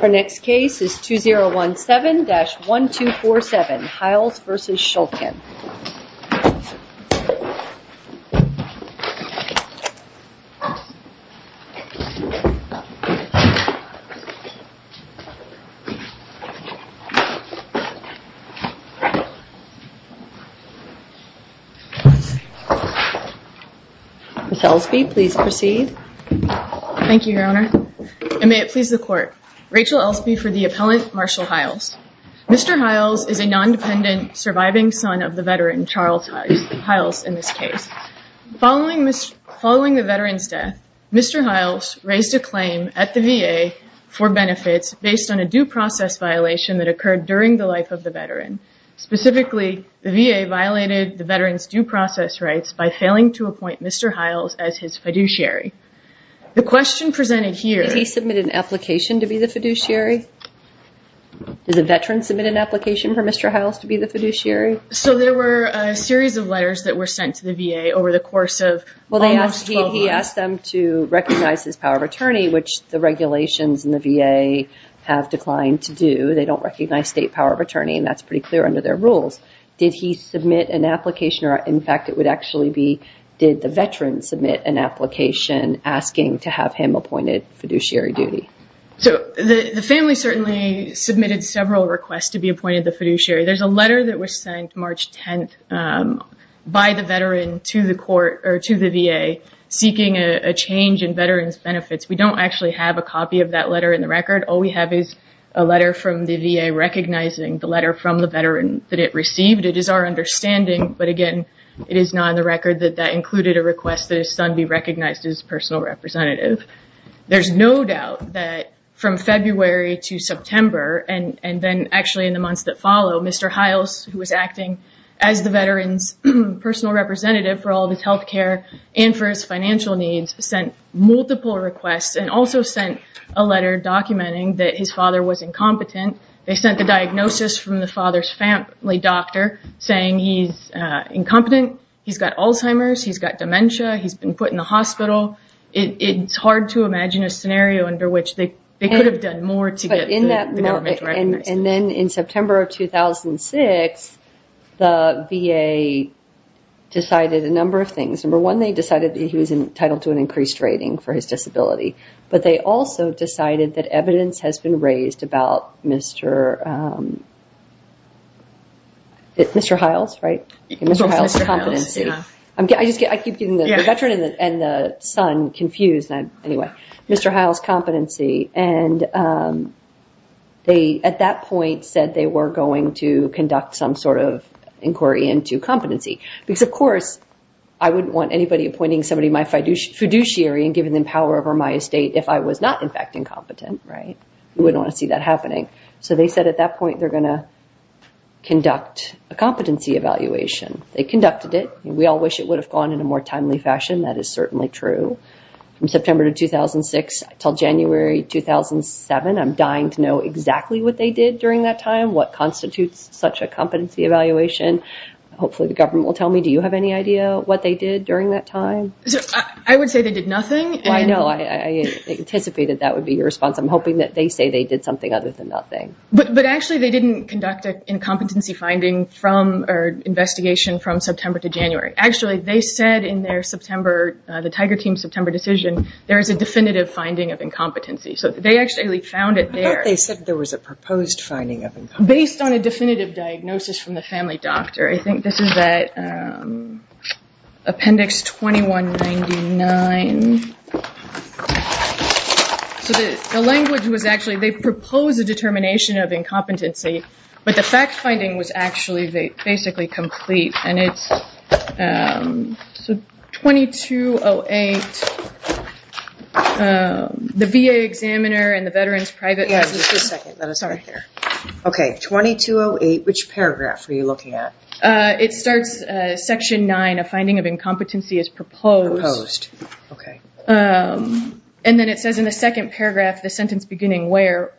Our next case is 2017-1247 Hiles v. Shulkin Rachel Elsby for the appellant Marshall Hiles Mr. Hiles is a non-dependent surviving son of the veteran Charles Hiles in this case. Following the veteran's death, Mr. Hiles raised a claim at the VA for benefits based on a due process violation that occurred during the life of the veteran. Specifically, the VA violated the veteran's due process rights by failing to appoint Mr. Hiles as his fiduciary. The question presented here- Did he submit an application to be the fiduciary? Did the veteran submit an application for Mr. Hiles to be the fiduciary? So there were a series of letters that were sent to the VA over the course of almost 12 months. He asked them to recognize his power of attorney, which the regulations in the VA have declined. They don't recognize state power of attorney and that's pretty clear under their rules. Did he submit an application or in fact it would actually be, did the veteran submit an application asking to have him appointed fiduciary duty? So the family certainly submitted several requests to be appointed the fiduciary. There's a letter that was sent March 10th by the veteran to the court or to the VA seeking a change in veterans benefits. All we have is a letter from the VA recognizing the letter from the veteran that it received. It is our understanding, but again, it is not on the record that that included a request that his son be recognized as personal representative. There's no doubt that from February to September and then actually in the months that follow, Mr. Hiles, who was acting as the veteran's personal representative for all of his health care and for his financial needs, sent multiple requests and also sent a letter documenting that his father was incompetent. They sent the diagnosis from the father's family doctor saying he's incompetent. He's got Alzheimer's. He's got dementia. He's been put in the hospital. It's hard to imagine a scenario under which they could have done more to get the government to recognize him. Then in September of 2006, the VA decided a number of things. Number one, they decided that he was entitled to an increased rating for his disability, but they also decided that evidence has been raised about Mr. Hiles, right? Mr. Hiles' competency. I keep getting the veteran and the son confused. Anyway, Mr. Hiles' competency, and they at that point said they were going to conduct some sort of inquiry into competency because, of course, I wouldn't want anybody appointing somebody my fiduciary and giving them power over my estate if I was not in fact incompetent, right? You wouldn't want to see that happening. They said at that point they're going to conduct a competency evaluation. They conducted it. We all wish it would have gone in a more timely fashion. That is certainly true. From September of 2006 until January 2007, I'm dying to know exactly what they did during that time, what constitutes such a competency evaluation. Hopefully the government will tell me. Do you have any idea what they did during that time? I would say they did nothing. I know. I anticipated that would be your response. I'm hoping that they say they did something other than nothing. But actually they didn't conduct an incompetency finding from or investigation from September to January. Actually, they said in their September, the Tiger Team's September decision, there is a definitive finding of incompetency. They actually found it there. I thought they said there was a proposed finding of incompetency. Based on a definitive diagnosis from the family doctor, I think this is that Appendix 2199. The language was actually, they proposed a determination of incompetency, but the fact So 2208, the VA examiner and the veteran's private... Yes, just a second. Sorry. Here. Okay. 2208, which paragraph are you looking at? It starts Section 9, a finding of incompetency is proposed. Proposed. Okay. And then it says in the second paragraph, the sentence beginning where,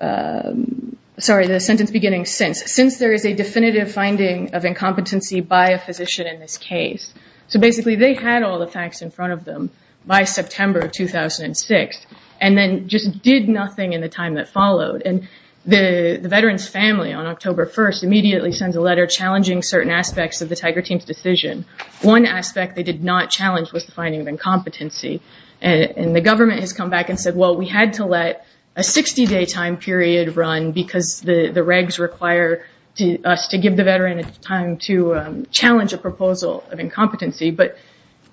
sorry, the sentence beginning since, since there is a definitive finding of incompetency by a physician in this case. So basically they had all the facts in front of them by September of 2006, and then just did nothing in the time that followed. And the veteran's family on October 1st immediately sends a letter challenging certain aspects of the Tiger Team's decision. One aspect they did not challenge was the finding of incompetency. And the government has come back and said, well, we had to let a 60 day time period run because the regs require us to give the veteran time to challenge a proposal of incompetency. But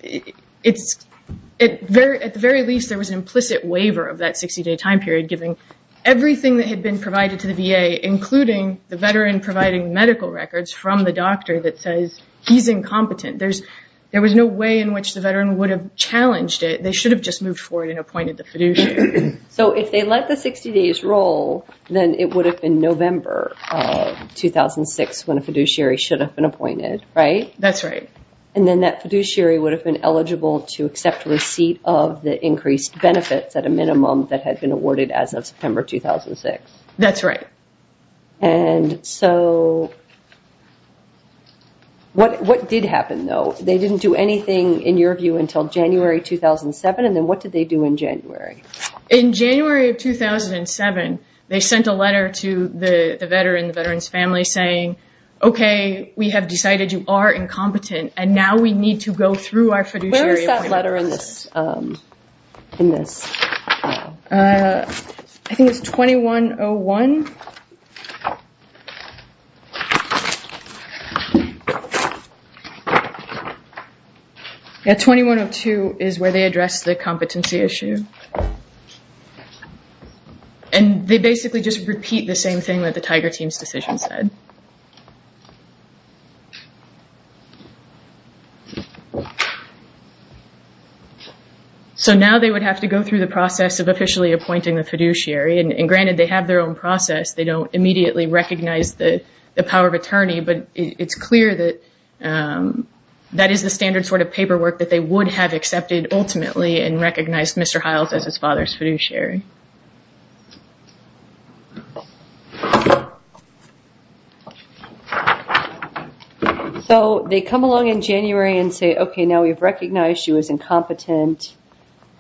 at the very least, there was an implicit waiver of that 60 day time period giving everything that had been provided to the VA, including the veteran providing medical records from the doctor that says he's incompetent. There was no way in which the veteran would have challenged it. They should have just moved forward and appointed the fiduciary. So if they let the 60 days roll, then it would have been November of 2006 when a fiduciary should have been appointed, right? That's right. And then that fiduciary would have been eligible to accept receipt of the increased benefits at a minimum that had been awarded as of September 2006. That's right. And so what, what did happen though? They didn't do anything in your view until January 2007. And then what did they do in January? In January of 2007, they sent a letter to the veteran, the veteran's family saying, okay, we have decided you are incompetent and now we need to go through our fiduciary appointment. Where is that letter in this, in this? I think it's 2101. Yeah, 2102 is where they addressed the competency issue and they basically just repeat the same thing that the Tiger team's decision said. So now they would have to go through the process of officially appointing the fiduciary and granted they have their own process. They don't immediately recognize the, the power of attorney, but it's clear that that is the standard sort of paperwork that they would have accepted ultimately and recognized Mr. Hiles as his father's fiduciary. So they come along in January and say, okay, now we've recognized you as incompetent.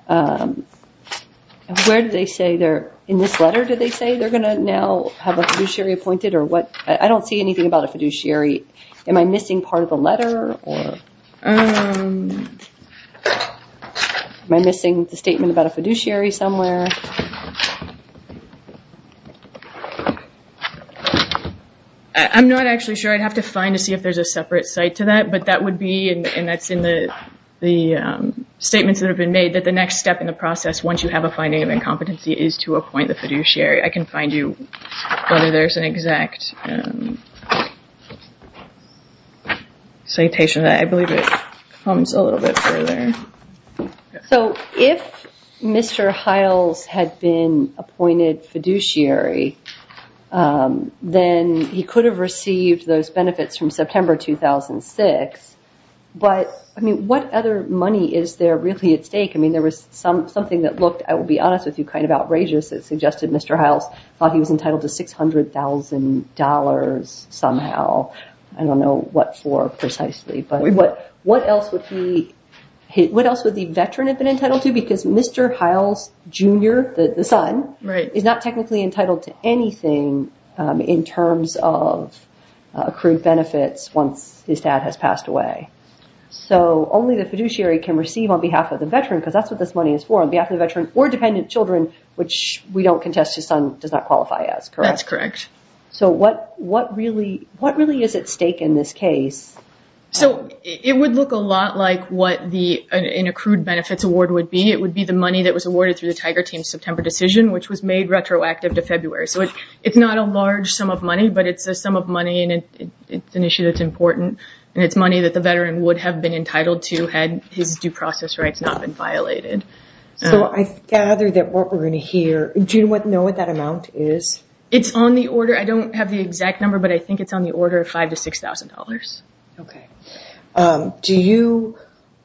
Where do they say they're, in this letter, do they say they're going to now have a fiduciary appointed or what? I don't see anything about a fiduciary. Am I missing part of the letter or am I missing the statement about a fiduciary somewhere? I'm not actually sure. I'd have to find to see if there's a separate site to that, but that would be, and that's in the, the statements that have been made that the next step in the process, once you have a finding of incompetency is to appoint the fiduciary. I can find you whether there's an exact citation that I believe it comes a little bit further. So if Mr. Hiles had been appointed fiduciary, then he could have received those benefits from September 2006, but I mean, what other money is there really at stake? I mean, there was some, something that looked, I will be honest with you, kind of outrageous that suggested Mr. Hiles thought he was entitled to $600,000 somehow. I don't know what for precisely, but what else would he, what else would the veteran have been entitled to? Because Mr. Hiles Jr., the son, is not technically entitled to anything in terms of accrued benefits once his dad has passed away. So only the fiduciary can receive on behalf of the veteran, because that's what this money is for, on behalf of the veteran or dependent children, which we don't contest his son does not qualify as. Correct? That's correct. So what, what really, what really is at stake in this case? So it would look a lot like what the, an accrued benefits award would be. It would be the money that was awarded through the Tiger Team September decision, which was made retroactive to February. So it's not a large sum of money, but it's a sum of money and it's an issue that's important and it's money that the veteran would have been entitled to had his due process rights not been violated. So I gather that what we're going to hear, do you know what that amount is? It's on the order, I don't have the exact number, but I think it's on the order of $5,000 to $6,000. Okay. Do you,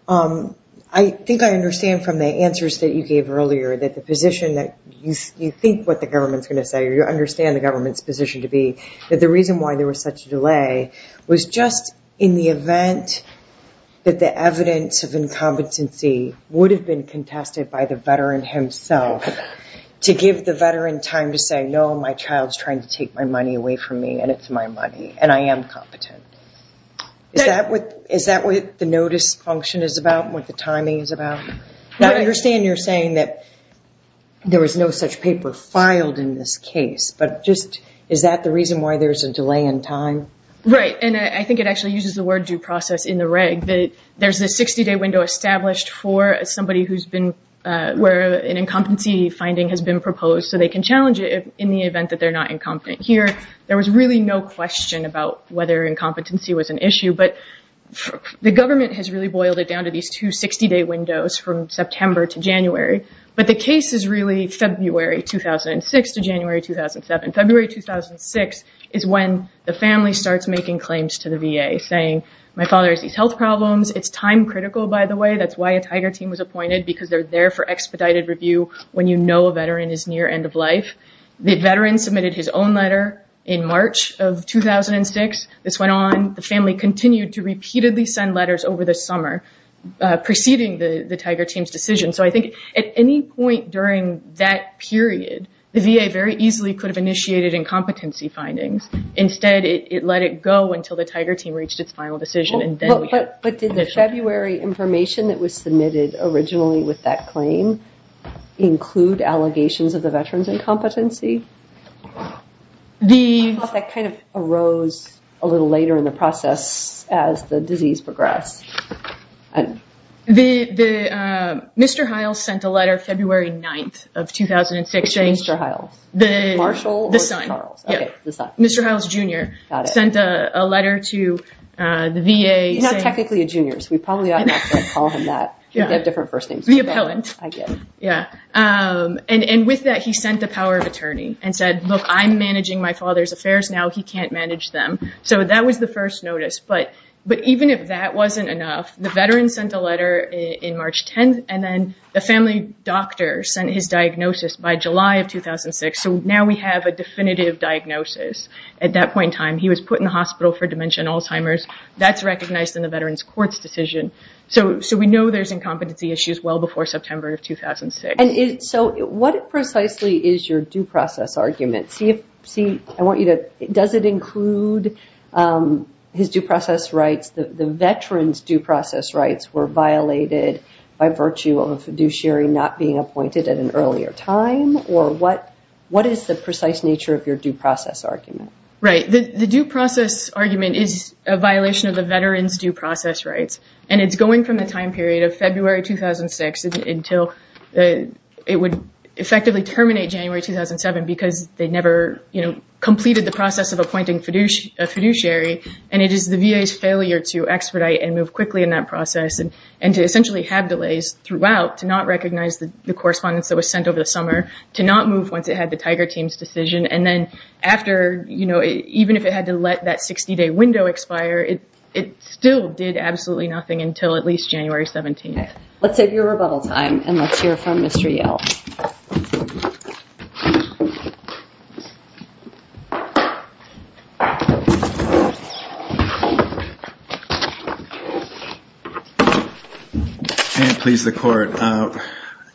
I think I understand from the answers that you gave earlier that the position that you think what the government's going to say, or you understand the government's position to be, that the reason why there was such a delay was just in the event that the evidence of incompetency would have been contested by the veteran himself to give the veteran time to say, no, my child's trying to take my money away from me and it's my money and I am competent. Is that what, is that what the notice function is about, what the timing is about? I understand you're saying that there was no such paper filed in this case, but just, is that the reason why there's a delay in time? Right. And I think it actually uses the word due process in the reg that there's a 60-day window established for somebody who's been, where an incompetency finding has been proposed so they can challenge it in the event that they're not incompetent here. There was really no question about whether incompetency was an issue, but the government has really boiled it down to these two 60-day windows from September to January. But the case is really February 2006 to January 2007. February 2006 is when the family starts making claims to the VA saying, my father has these health problems, it's time critical by the way, that's why a tiger team was appointed because they're there for expedited review when you know a veteran is near end of life. The veteran submitted his own letter in March of 2006, this went on, the family continued to repeatedly send letters over the summer preceding the tiger team's decision. So I think at any point during that period, the VA very easily could have initiated incompetency findings. Instead, it let it go until the tiger team reached its final decision and then we had this. But did the February information that was submitted originally with that claim include allegations of the veteran's incompetency? I thought that kind of arose a little later in the process as the disease progressed. Mr. Hiles sent a letter February 9th of 2006 saying the son, Mr. Hiles, Jr. sent a letter to the VA. He's not technically a junior, so we probably ought not to call him that, they have different first names. The appellant. I get it. Yeah, and with that, he sent the power of attorney and said, look, I'm managing my father's affairs now, he can't manage them. So that was the first notice. But even if that wasn't enough, the veteran sent a letter in March 10th and then the family doctor sent his diagnosis by July of 2006, so now we have a definitive diagnosis. At that point in time, he was put in the hospital for dementia and Alzheimer's, that's recognized in the veteran's court's decision. So we know there's incompetency issues well before September of 2006. So what precisely is your due process argument? Does it include his due process rights, the veteran's due process rights were violated by virtue of a fiduciary not being appointed at an earlier time, or what is the precise nature of your due process argument? The due process argument is a violation of the veteran's due process rights, and it's going from the time period of February 2006 until it would effectively terminate January 2007 because they never completed the process of appointing a fiduciary, and it is the VA's failure to expedite and move quickly in that process, and to essentially have delays throughout to not recognize the correspondence that was sent over the summer, to not move once it even if it had to let that 60 day window expire, it still did absolutely nothing until at least January 17th. Let's save your rebuttal time and let's hear from Mr. Yale. And please the court,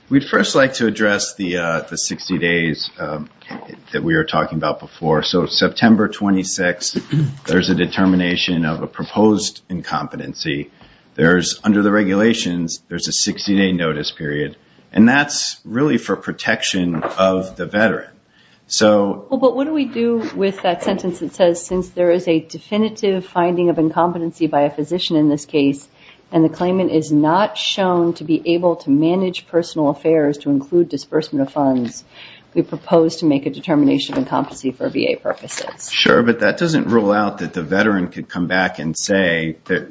we'd first like to address the 60 days that we were talking about before. So September 26th, there's a determination of a proposed incompetency, there's under the regulations, there's a 60 day notice period, and that's really for protection of the veteran. So what do we do with that sentence that says, since there is a definitive finding of incompetency by a physician in this case, and the claimant is not shown to be able to manage personal affairs to include disbursement of funds, we propose to make a determination of incompetency for VA purposes. Sure, but that doesn't rule out that the veteran could come back and say that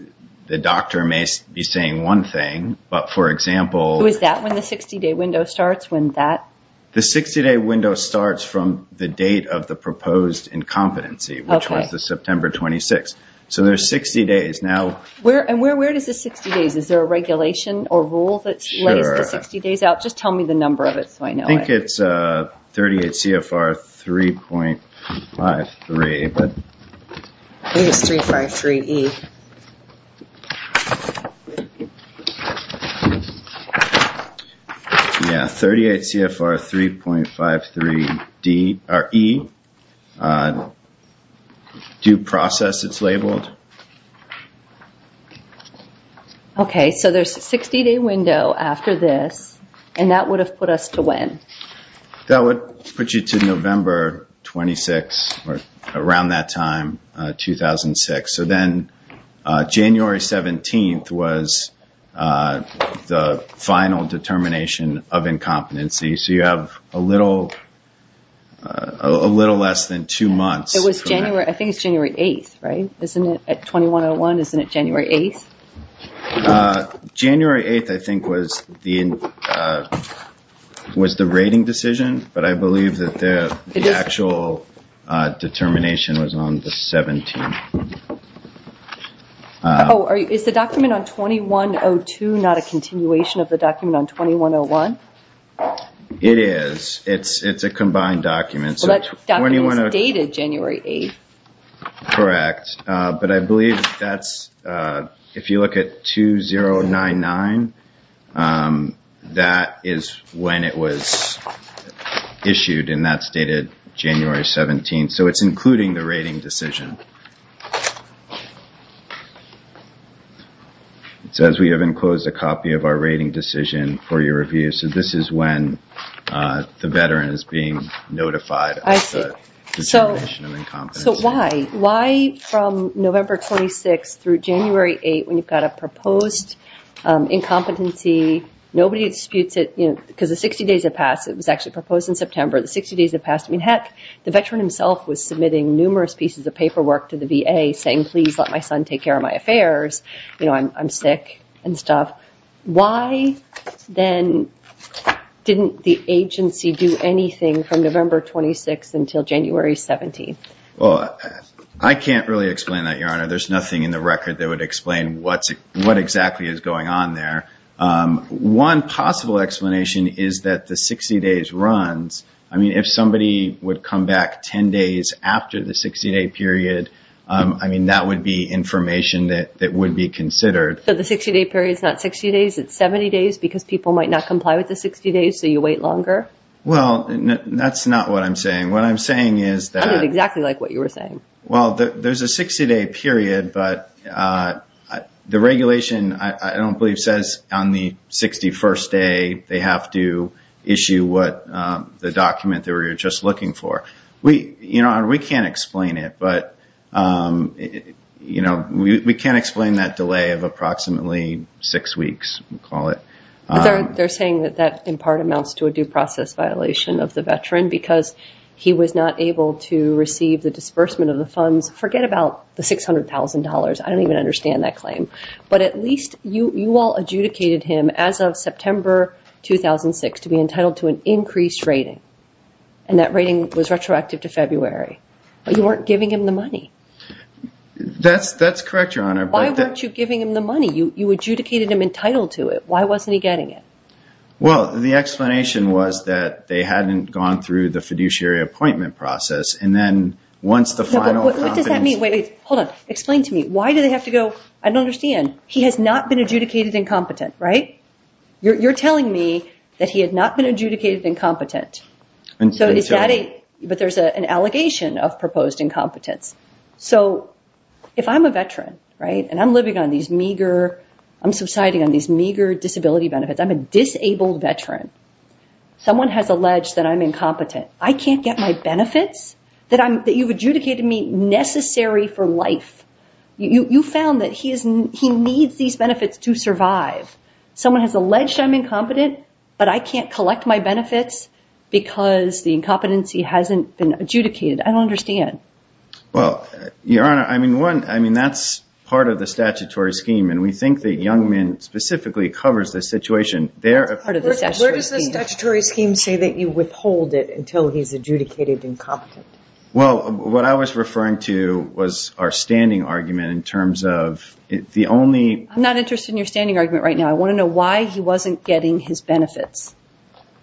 the doctor may be saying one thing, but for example... Was that when the 60 day window starts, when that... The 60 day window starts from the date of the proposed incompetency, which was the September 26th. So there's 60 days. Now... And where does the 60 days, is there a regulation or rule that lays the 60 days out? Just tell me the number of it so I know. I think it's 38 CFR 3.53, but... I think it's 353E. Yeah, 38 CFR 3.53D, or E, due process, it's labeled. Okay, so there's a 60 day window after this, and that would have put us to when? That would put you to November 26th, or around that time, 2006. So then January 17th was the final determination of incompetency, so you have a little less than two months. It was January... January 17th, 2001, isn't it? At 2101, isn't it January 8th? January 8th, I think, was the rating decision, but I believe that the actual determination was on the 17th. Oh, is the document on 2102 not a continuation of the document on 2101? It is. It's a combined document. So that document is dated January 8th. Correct, but I believe that's... If you look at 2099, that is when it was issued, and that's dated January 17th. So it's including the rating decision. It says, we have enclosed a copy of our rating decision for your review. So this is when the veteran is being notified of the determination of incompetency. So why? Why from November 26th through January 8th, when you've got a proposed incompetency, nobody disputes it, because the 60 days have passed. It was actually proposed in September. The 60 days have passed. I mean, heck, the veteran himself was submitting numerous pieces of paperwork to the VA saying, please let my son take care of my affairs. I'm sick and stuff. Why then didn't the agency do anything from November 26th until January 17th? Well, I can't really explain that, Your Honor. There's nothing in the record that would explain what exactly is going on there. One possible explanation is that the 60 days runs. I mean, if somebody would come back 10 days after the 60-day period, I mean, that would be information that would be considered. So the 60-day period is not 60 days, it's 70 days because people might not comply with the 60 days, so you wait longer? Well, that's not what I'm saying. What I'm saying is that... It sounded exactly like what you were saying. Well, there's a 60-day period, but the regulation, I don't believe, says on the 61st day they have to issue the document they were just looking for. We can't explain it, but we can't explain that delay of approximately six weeks, we call it. They're saying that that, in part, amounts to a due process violation of the veteran because he was not able to receive the disbursement of the funds. Forget about the $600,000, I don't even understand that claim. But at least you all adjudicated him, as of September 2006, to be entitled to an increased rating, and that rating was retroactive to February. But you weren't giving him the money. That's correct, Your Honor. Why weren't you giving him the money? You adjudicated him entitled to it. Why wasn't he getting it? Well, the explanation was that they hadn't gone through the fiduciary appointment process, and then once the final competence... What does that mean? Wait, wait. Hold on. Explain to me. Why do they have to go... I don't understand. He has not been adjudicated incompetent, right? You're telling me that he had not been adjudicated incompetent, but there's an allegation of proposed incompetence. So, if I'm a veteran, and I'm living on these meager, I'm subsiding on these meager disability benefits, I'm a disabled veteran, someone has alleged that I'm incompetent. I can't get my benefits that you've adjudicated me necessary for life. You found that he needs these benefits to survive. Someone has alleged I'm incompetent, but I can't collect my benefits because the incompetency hasn't been adjudicated. I don't understand. Well, Your Honor, I mean, that's part of the statutory scheme, and we think that Youngman specifically covers this situation. That's part of the statutory scheme. Where does the statutory scheme say that you withhold it until he's adjudicated incompetent? Well, what I was referring to was our standing argument in terms of the only... I'm not interested in your standing argument right now. I want to know why he wasn't getting his benefits.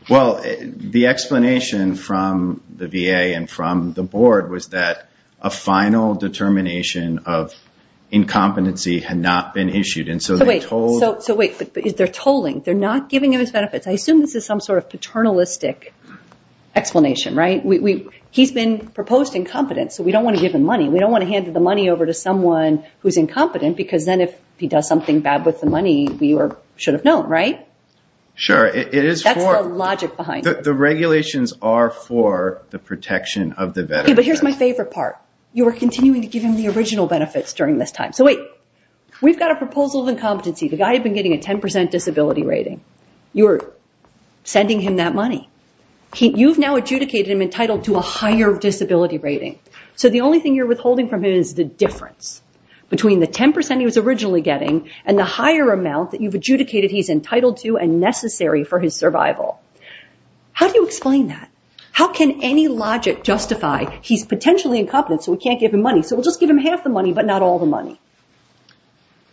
Well, the explanation from the VA and from the board was that a final determination of incompetency had not been issued. So wait, they're tolling. They're not giving him his benefits. I assume this is some sort of paternalistic explanation, right? He's been proposed incompetent, so we don't want to give him money. We don't want to hand the money over to someone who's incompetent because then if he does something bad with the money, we should have known, right? Sure, it is for... That's the logic behind it. The regulations are for the protection of the veteran. But here's my favorite part. You were continuing to give him the original benefits during this time. So wait, we've got a proposal of incompetency. The guy had been getting a 10% disability rating. You're sending him that money. You've now adjudicated him entitled to a higher disability rating. So the only thing you're withholding from him is the difference between the 10% he was originally getting and the higher amount that you've adjudicated he's entitled to and necessary for his survival. How do you explain that? How can any logic justify he's potentially incompetent so we can't give him money? So we'll just give him half the money, but not all the money.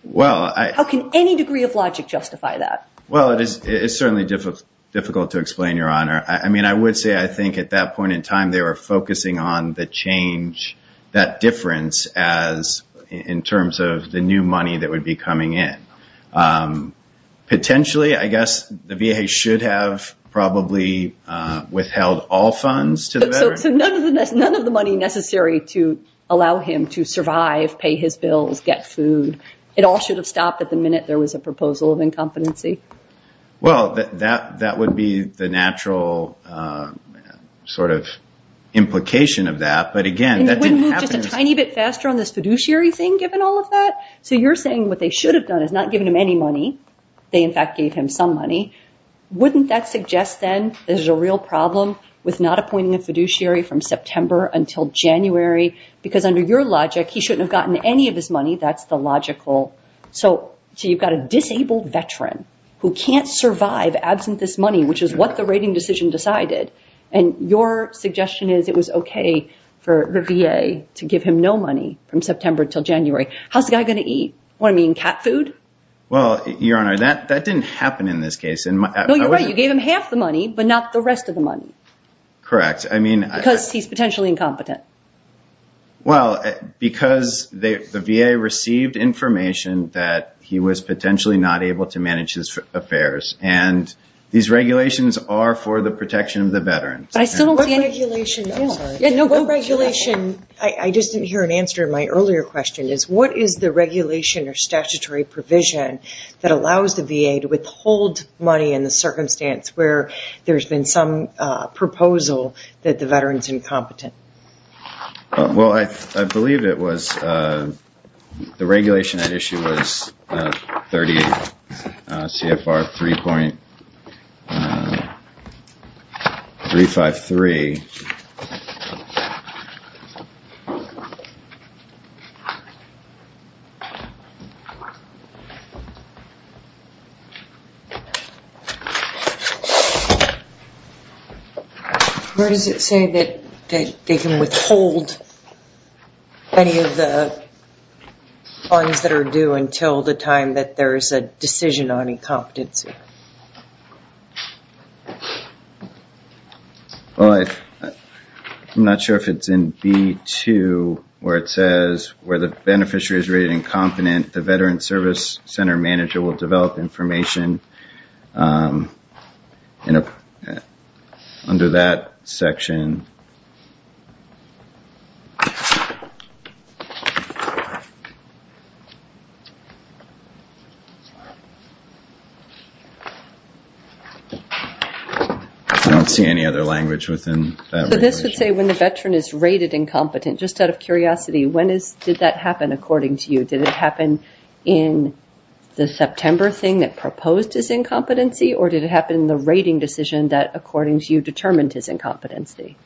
Well, I... How can any degree of logic justify that? Well, it is certainly difficult to explain, Your Honor. I mean, I would say I think at that point in time, they were focusing on the change, that difference as in terms of the new money that would be coming in. Potentially, I guess the VA should have probably withheld all funds to the veteran. None of the money necessary to allow him to survive, pay his bills, get food. It all should have stopped at the minute there was a proposal of incompetency. Well, that would be the natural sort of implication of that. But again, that didn't happen... And it wouldn't move just a tiny bit faster on this fiduciary thing given all of that? So you're saying what they should have done is not given him any money. They, in fact, gave him some money. Wouldn't that suggest then there's a real problem with not appointing a fiduciary from September until January? Because under your logic, he shouldn't have gotten any of his money. That's the logical... So you've got a disabled veteran who can't survive absent this money, which is what the rating decision decided. And your suggestion is it was okay for the VA to give him no money from September till January. How's the guy going to eat? What, I mean, cat food? Well, Your Honor, that didn't happen in this case. No, you're right. So you gave him half the money, but not the rest of the money. Correct. Because he's potentially incompetent. Well, because the VA received information that he was potentially not able to manage his affairs. And these regulations are for the protection of the veteran. But I still don't see any... What regulation... I just didn't hear an answer to my earlier question is what is the regulation or statutory provision that allows the VA to withhold money in the circumstance where there's been some proposal that the veteran's incompetent? Well, I believe it was... The regulation at issue was 30 CFR 3.353. Where does it say that they can withhold any of the funds that are due until the time that there is a decision on incompetency? Well, I'm not sure if it's in B2 where it says where the beneficiary is rated incompetent, the veteran service center manager will develop information under that section. I don't see any other language within that regulation. So this would say when the veteran is rated incompetent. Just out of curiosity, when did that happen according to you? In the September thing that proposed his incompetency or did it happen in the rating decision that according to you determined his incompetency?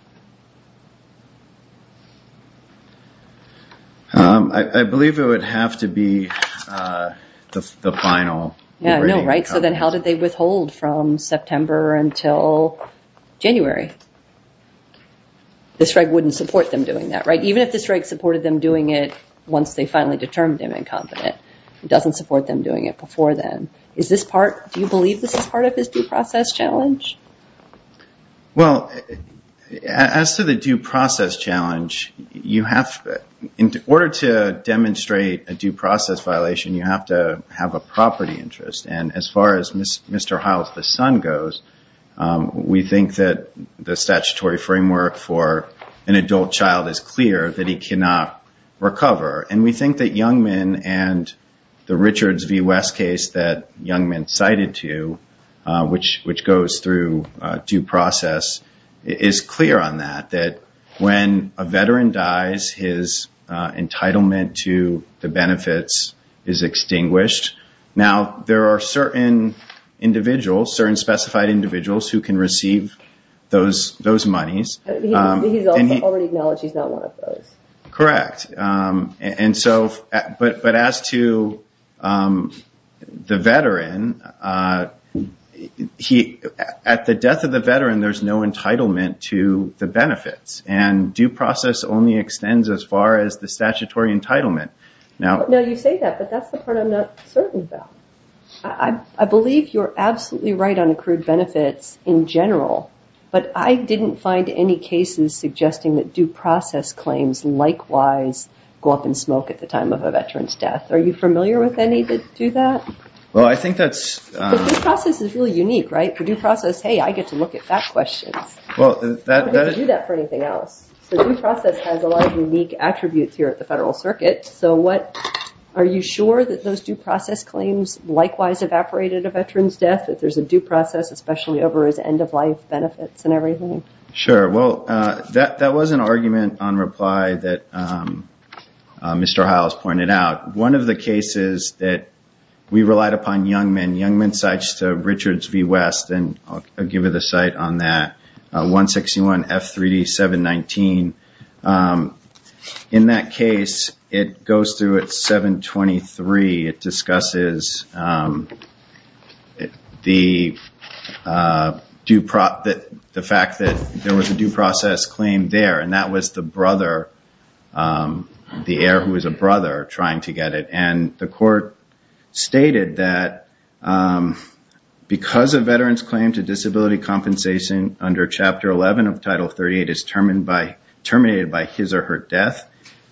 I believe it would have to be the final rating. So then how did they withhold from September until January? This reg wouldn't support them doing that. Even if this reg supported them doing it once they finally determined him incompetent. It doesn't support them doing it before then. Do you believe this is part of his due process challenge? Well, as to the due process challenge, in order to demonstrate a due process violation, you have to have a property interest. And as far as Mr. Heil's son goes, we think that the statutory framework for an adult child is clear that he cannot recover. And we think that Youngman and the Richards v. West case that Youngman cited to, which goes through due process, is clear on that. That when a veteran dies, his entitlement to the benefits is extinguished. Now, there are certain individuals, certain specified individuals, who can receive those monies. He's already acknowledged he's not one of those. Correct. But as to the veteran, at the death of the veteran, there's no entitlement to the benefits. And due process only extends as far as the statutory entitlement. Now, you say that, but that's the part I'm not certain about. I believe you're absolutely right on accrued benefits in general. But I didn't find any cases suggesting that due process claims likewise go up in smoke at the time of a veteran's death. Are you familiar with any that do that? Well, I think that's... Because due process is really unique, right? The due process, hey, I get to look at that question. I don't get to do that for anything else. So due process has a lot of unique attributes here at the Federal Circuit. So what, are you sure that those due process claims likewise evaporate at a veteran's death? That there's a due process, especially over his end-of-life benefits and everything? Sure. Well, that was an argument on reply that Mr. Hiles pointed out. One of the cases that we relied upon young men, young men's sites to Richards v. West, and I'll give you the site on that, 161 F3D 719. In that case, it goes through at 723. It discusses the fact that there was a due process claim there. And that was the brother, the heir who was a brother trying to get it. And the court stated that because a veteran's claim to disability compensation under Chapter 11 of Title 38 is terminated by his or her death,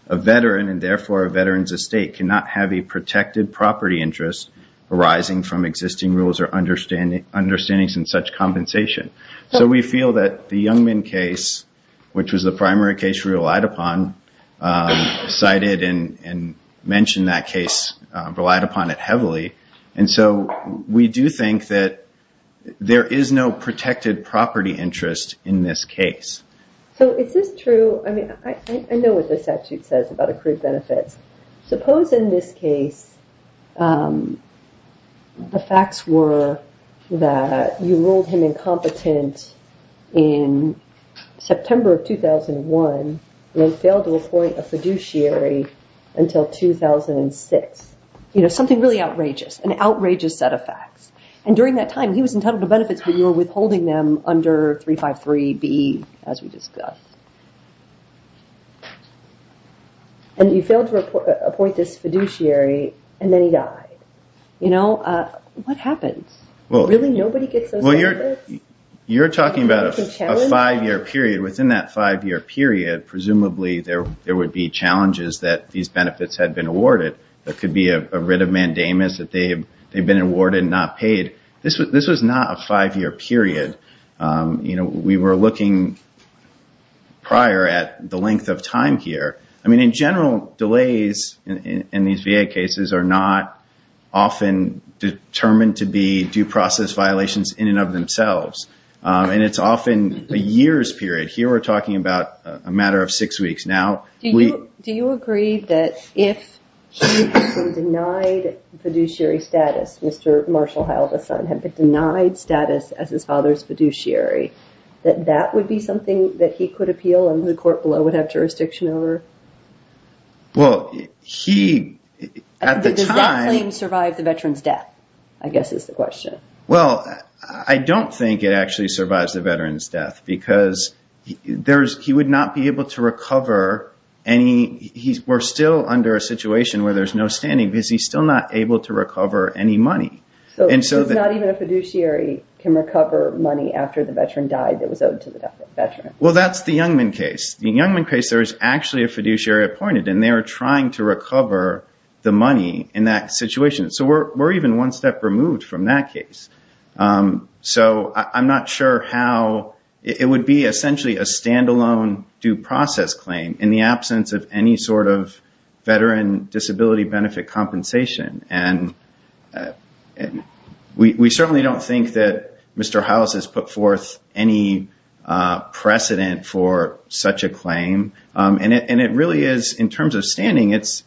a veteran, and therefore a veteran's estate, cannot have a protected property interest arising from existing rules or understandings in such compensation. So we feel that the young men case, which was the primary case we relied upon, cited and mentioned that case, relied upon it heavily. And so we do think that there is no protected property interest in this case. So is this true? I mean, I know what the statute says about accrued benefits. Suppose in this case, the facts were that you ruled him incompetent in September of 2001 and failed to appoint a fiduciary until 2006. You know, something really outrageous, an outrageous set of facts. And during that time, he was entitled to benefits, but you were withholding them under 353B, as we discussed. And you failed to appoint this fiduciary, and then he died. You know, what happens? Really, nobody gets those benefits? You're talking about a five-year period. Within that five-year period, presumably there would be challenges that these benefits had been awarded. There could be a writ of mandamus that they'd been awarded and not paid. This was not a five-year period. You know, we were looking prior at the length of time here. I mean, in general, delays in these VA cases are not often determined to be due process violations in and of themselves. And it's often a year's period. Here we're talking about a matter of six weeks. Do you agree that if he had been denied fiduciary status, Mr. Marshall Heil, the son, had been denied status as his father's fiduciary, that that would be something that he could appeal and the court below would have jurisdiction over? Well, he, at the time... Does that claim survive the veteran's death, I guess, is the question. Because he would not be able to recover any... We're still under a situation where there's no standing because he's still not able to recover any money. So not even a fiduciary can recover money after the veteran died that was owed to the veteran? Well, that's the Youngman case. In the Youngman case, there was actually a fiduciary appointed, and they were trying to recover the money in that situation. So we're even one step removed from that case. So I'm not sure how... It would be essentially a standalone due process claim in the absence of any sort of veteran disability benefit compensation. And we certainly don't think that Mr. Heil has put forth any precedent for such a claim. And it really is, in terms of standing, it's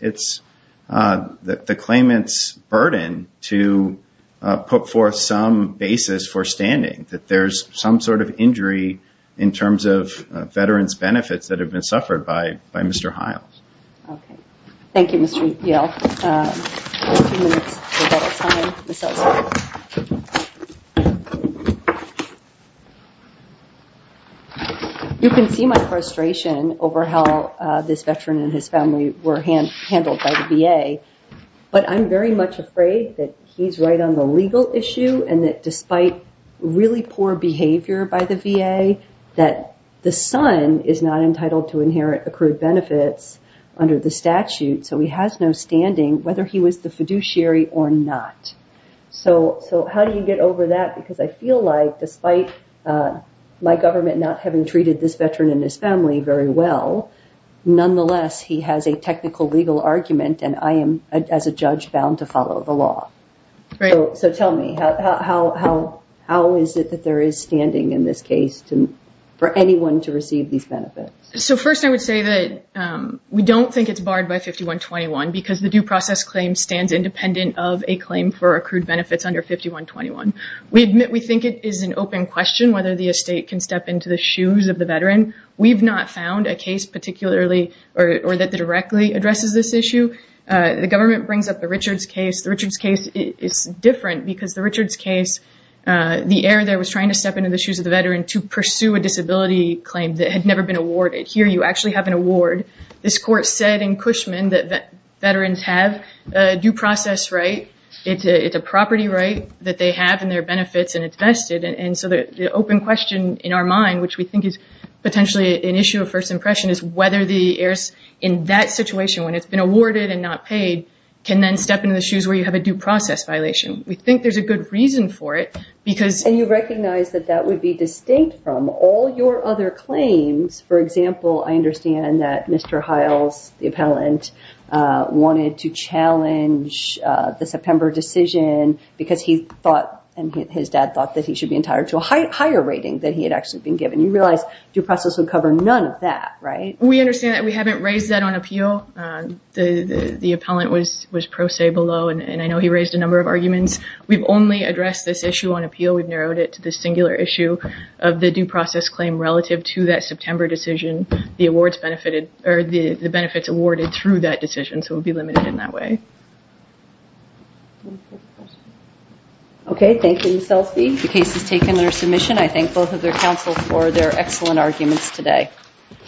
the claimant's burden to put forth some basis for standing, that there's some sort of injury in terms of veterans' benefits that have been suffered by Mr. Heil. Okay. Thank you, Mr. Yale. We have a few minutes for battle time. You can see my frustration over how this veteran and his family were handled by the VA. But I'm very much afraid that he's right on the legal issue and that despite really poor behavior by the VA, that the son is not entitled to inherit accrued benefits under the statute, so he has no standing, whether he was the fiduciary or not. So how do you get over that? Because I feel like, despite my government not having treated this veteran and his family very well, nonetheless, he has a technical legal argument and I am, as a judge, bound to follow the law. So tell me, how is it that there is standing in this case for anyone to receive these benefits? So first I would say that we don't think it's barred by 5121 because the due process claim stands independent of a claim for accrued benefits under 5121. We think it is an open question whether the estate can step into the shoes of the veteran. We've not found a case particularly, or that directly addresses this issue. The government brings up the Richards case. The Richards case is different because the Richards case, the heir there was trying to step into the shoes of the veteran to pursue a disability claim that had never been awarded. Here you actually have an award. This court said in Cushman that veterans have a due process right. It's a property right that they have in their benefits and it's vested, and so the open question in our mind, which we think is potentially an issue of first impression, is whether the heirs in that situation, when it's been awarded and not paid, can then step into the shoes where you have a due process violation. We think there's a good reason for it because... And you recognize that that would be distinct from all your other claims. For example, I understand that Mr. Hiles, the appellant, wanted to challenge the September decision because he thought, and his dad thought, that he should be entitled to a higher rating and he realized due process would cover none of that, right? We understand that. We haven't raised that on appeal. The appellant was pro se below and I know he raised a number of arguments. We've only addressed this issue on appeal. We've narrowed it to the singular issue of the due process claim relative to that September decision. The awards benefited, or the benefits awarded through that decision, so it would be limited in that way. Okay. Thank you, Selphie. The case is taken under submission. I thank both of their counsel for their excellent arguments today.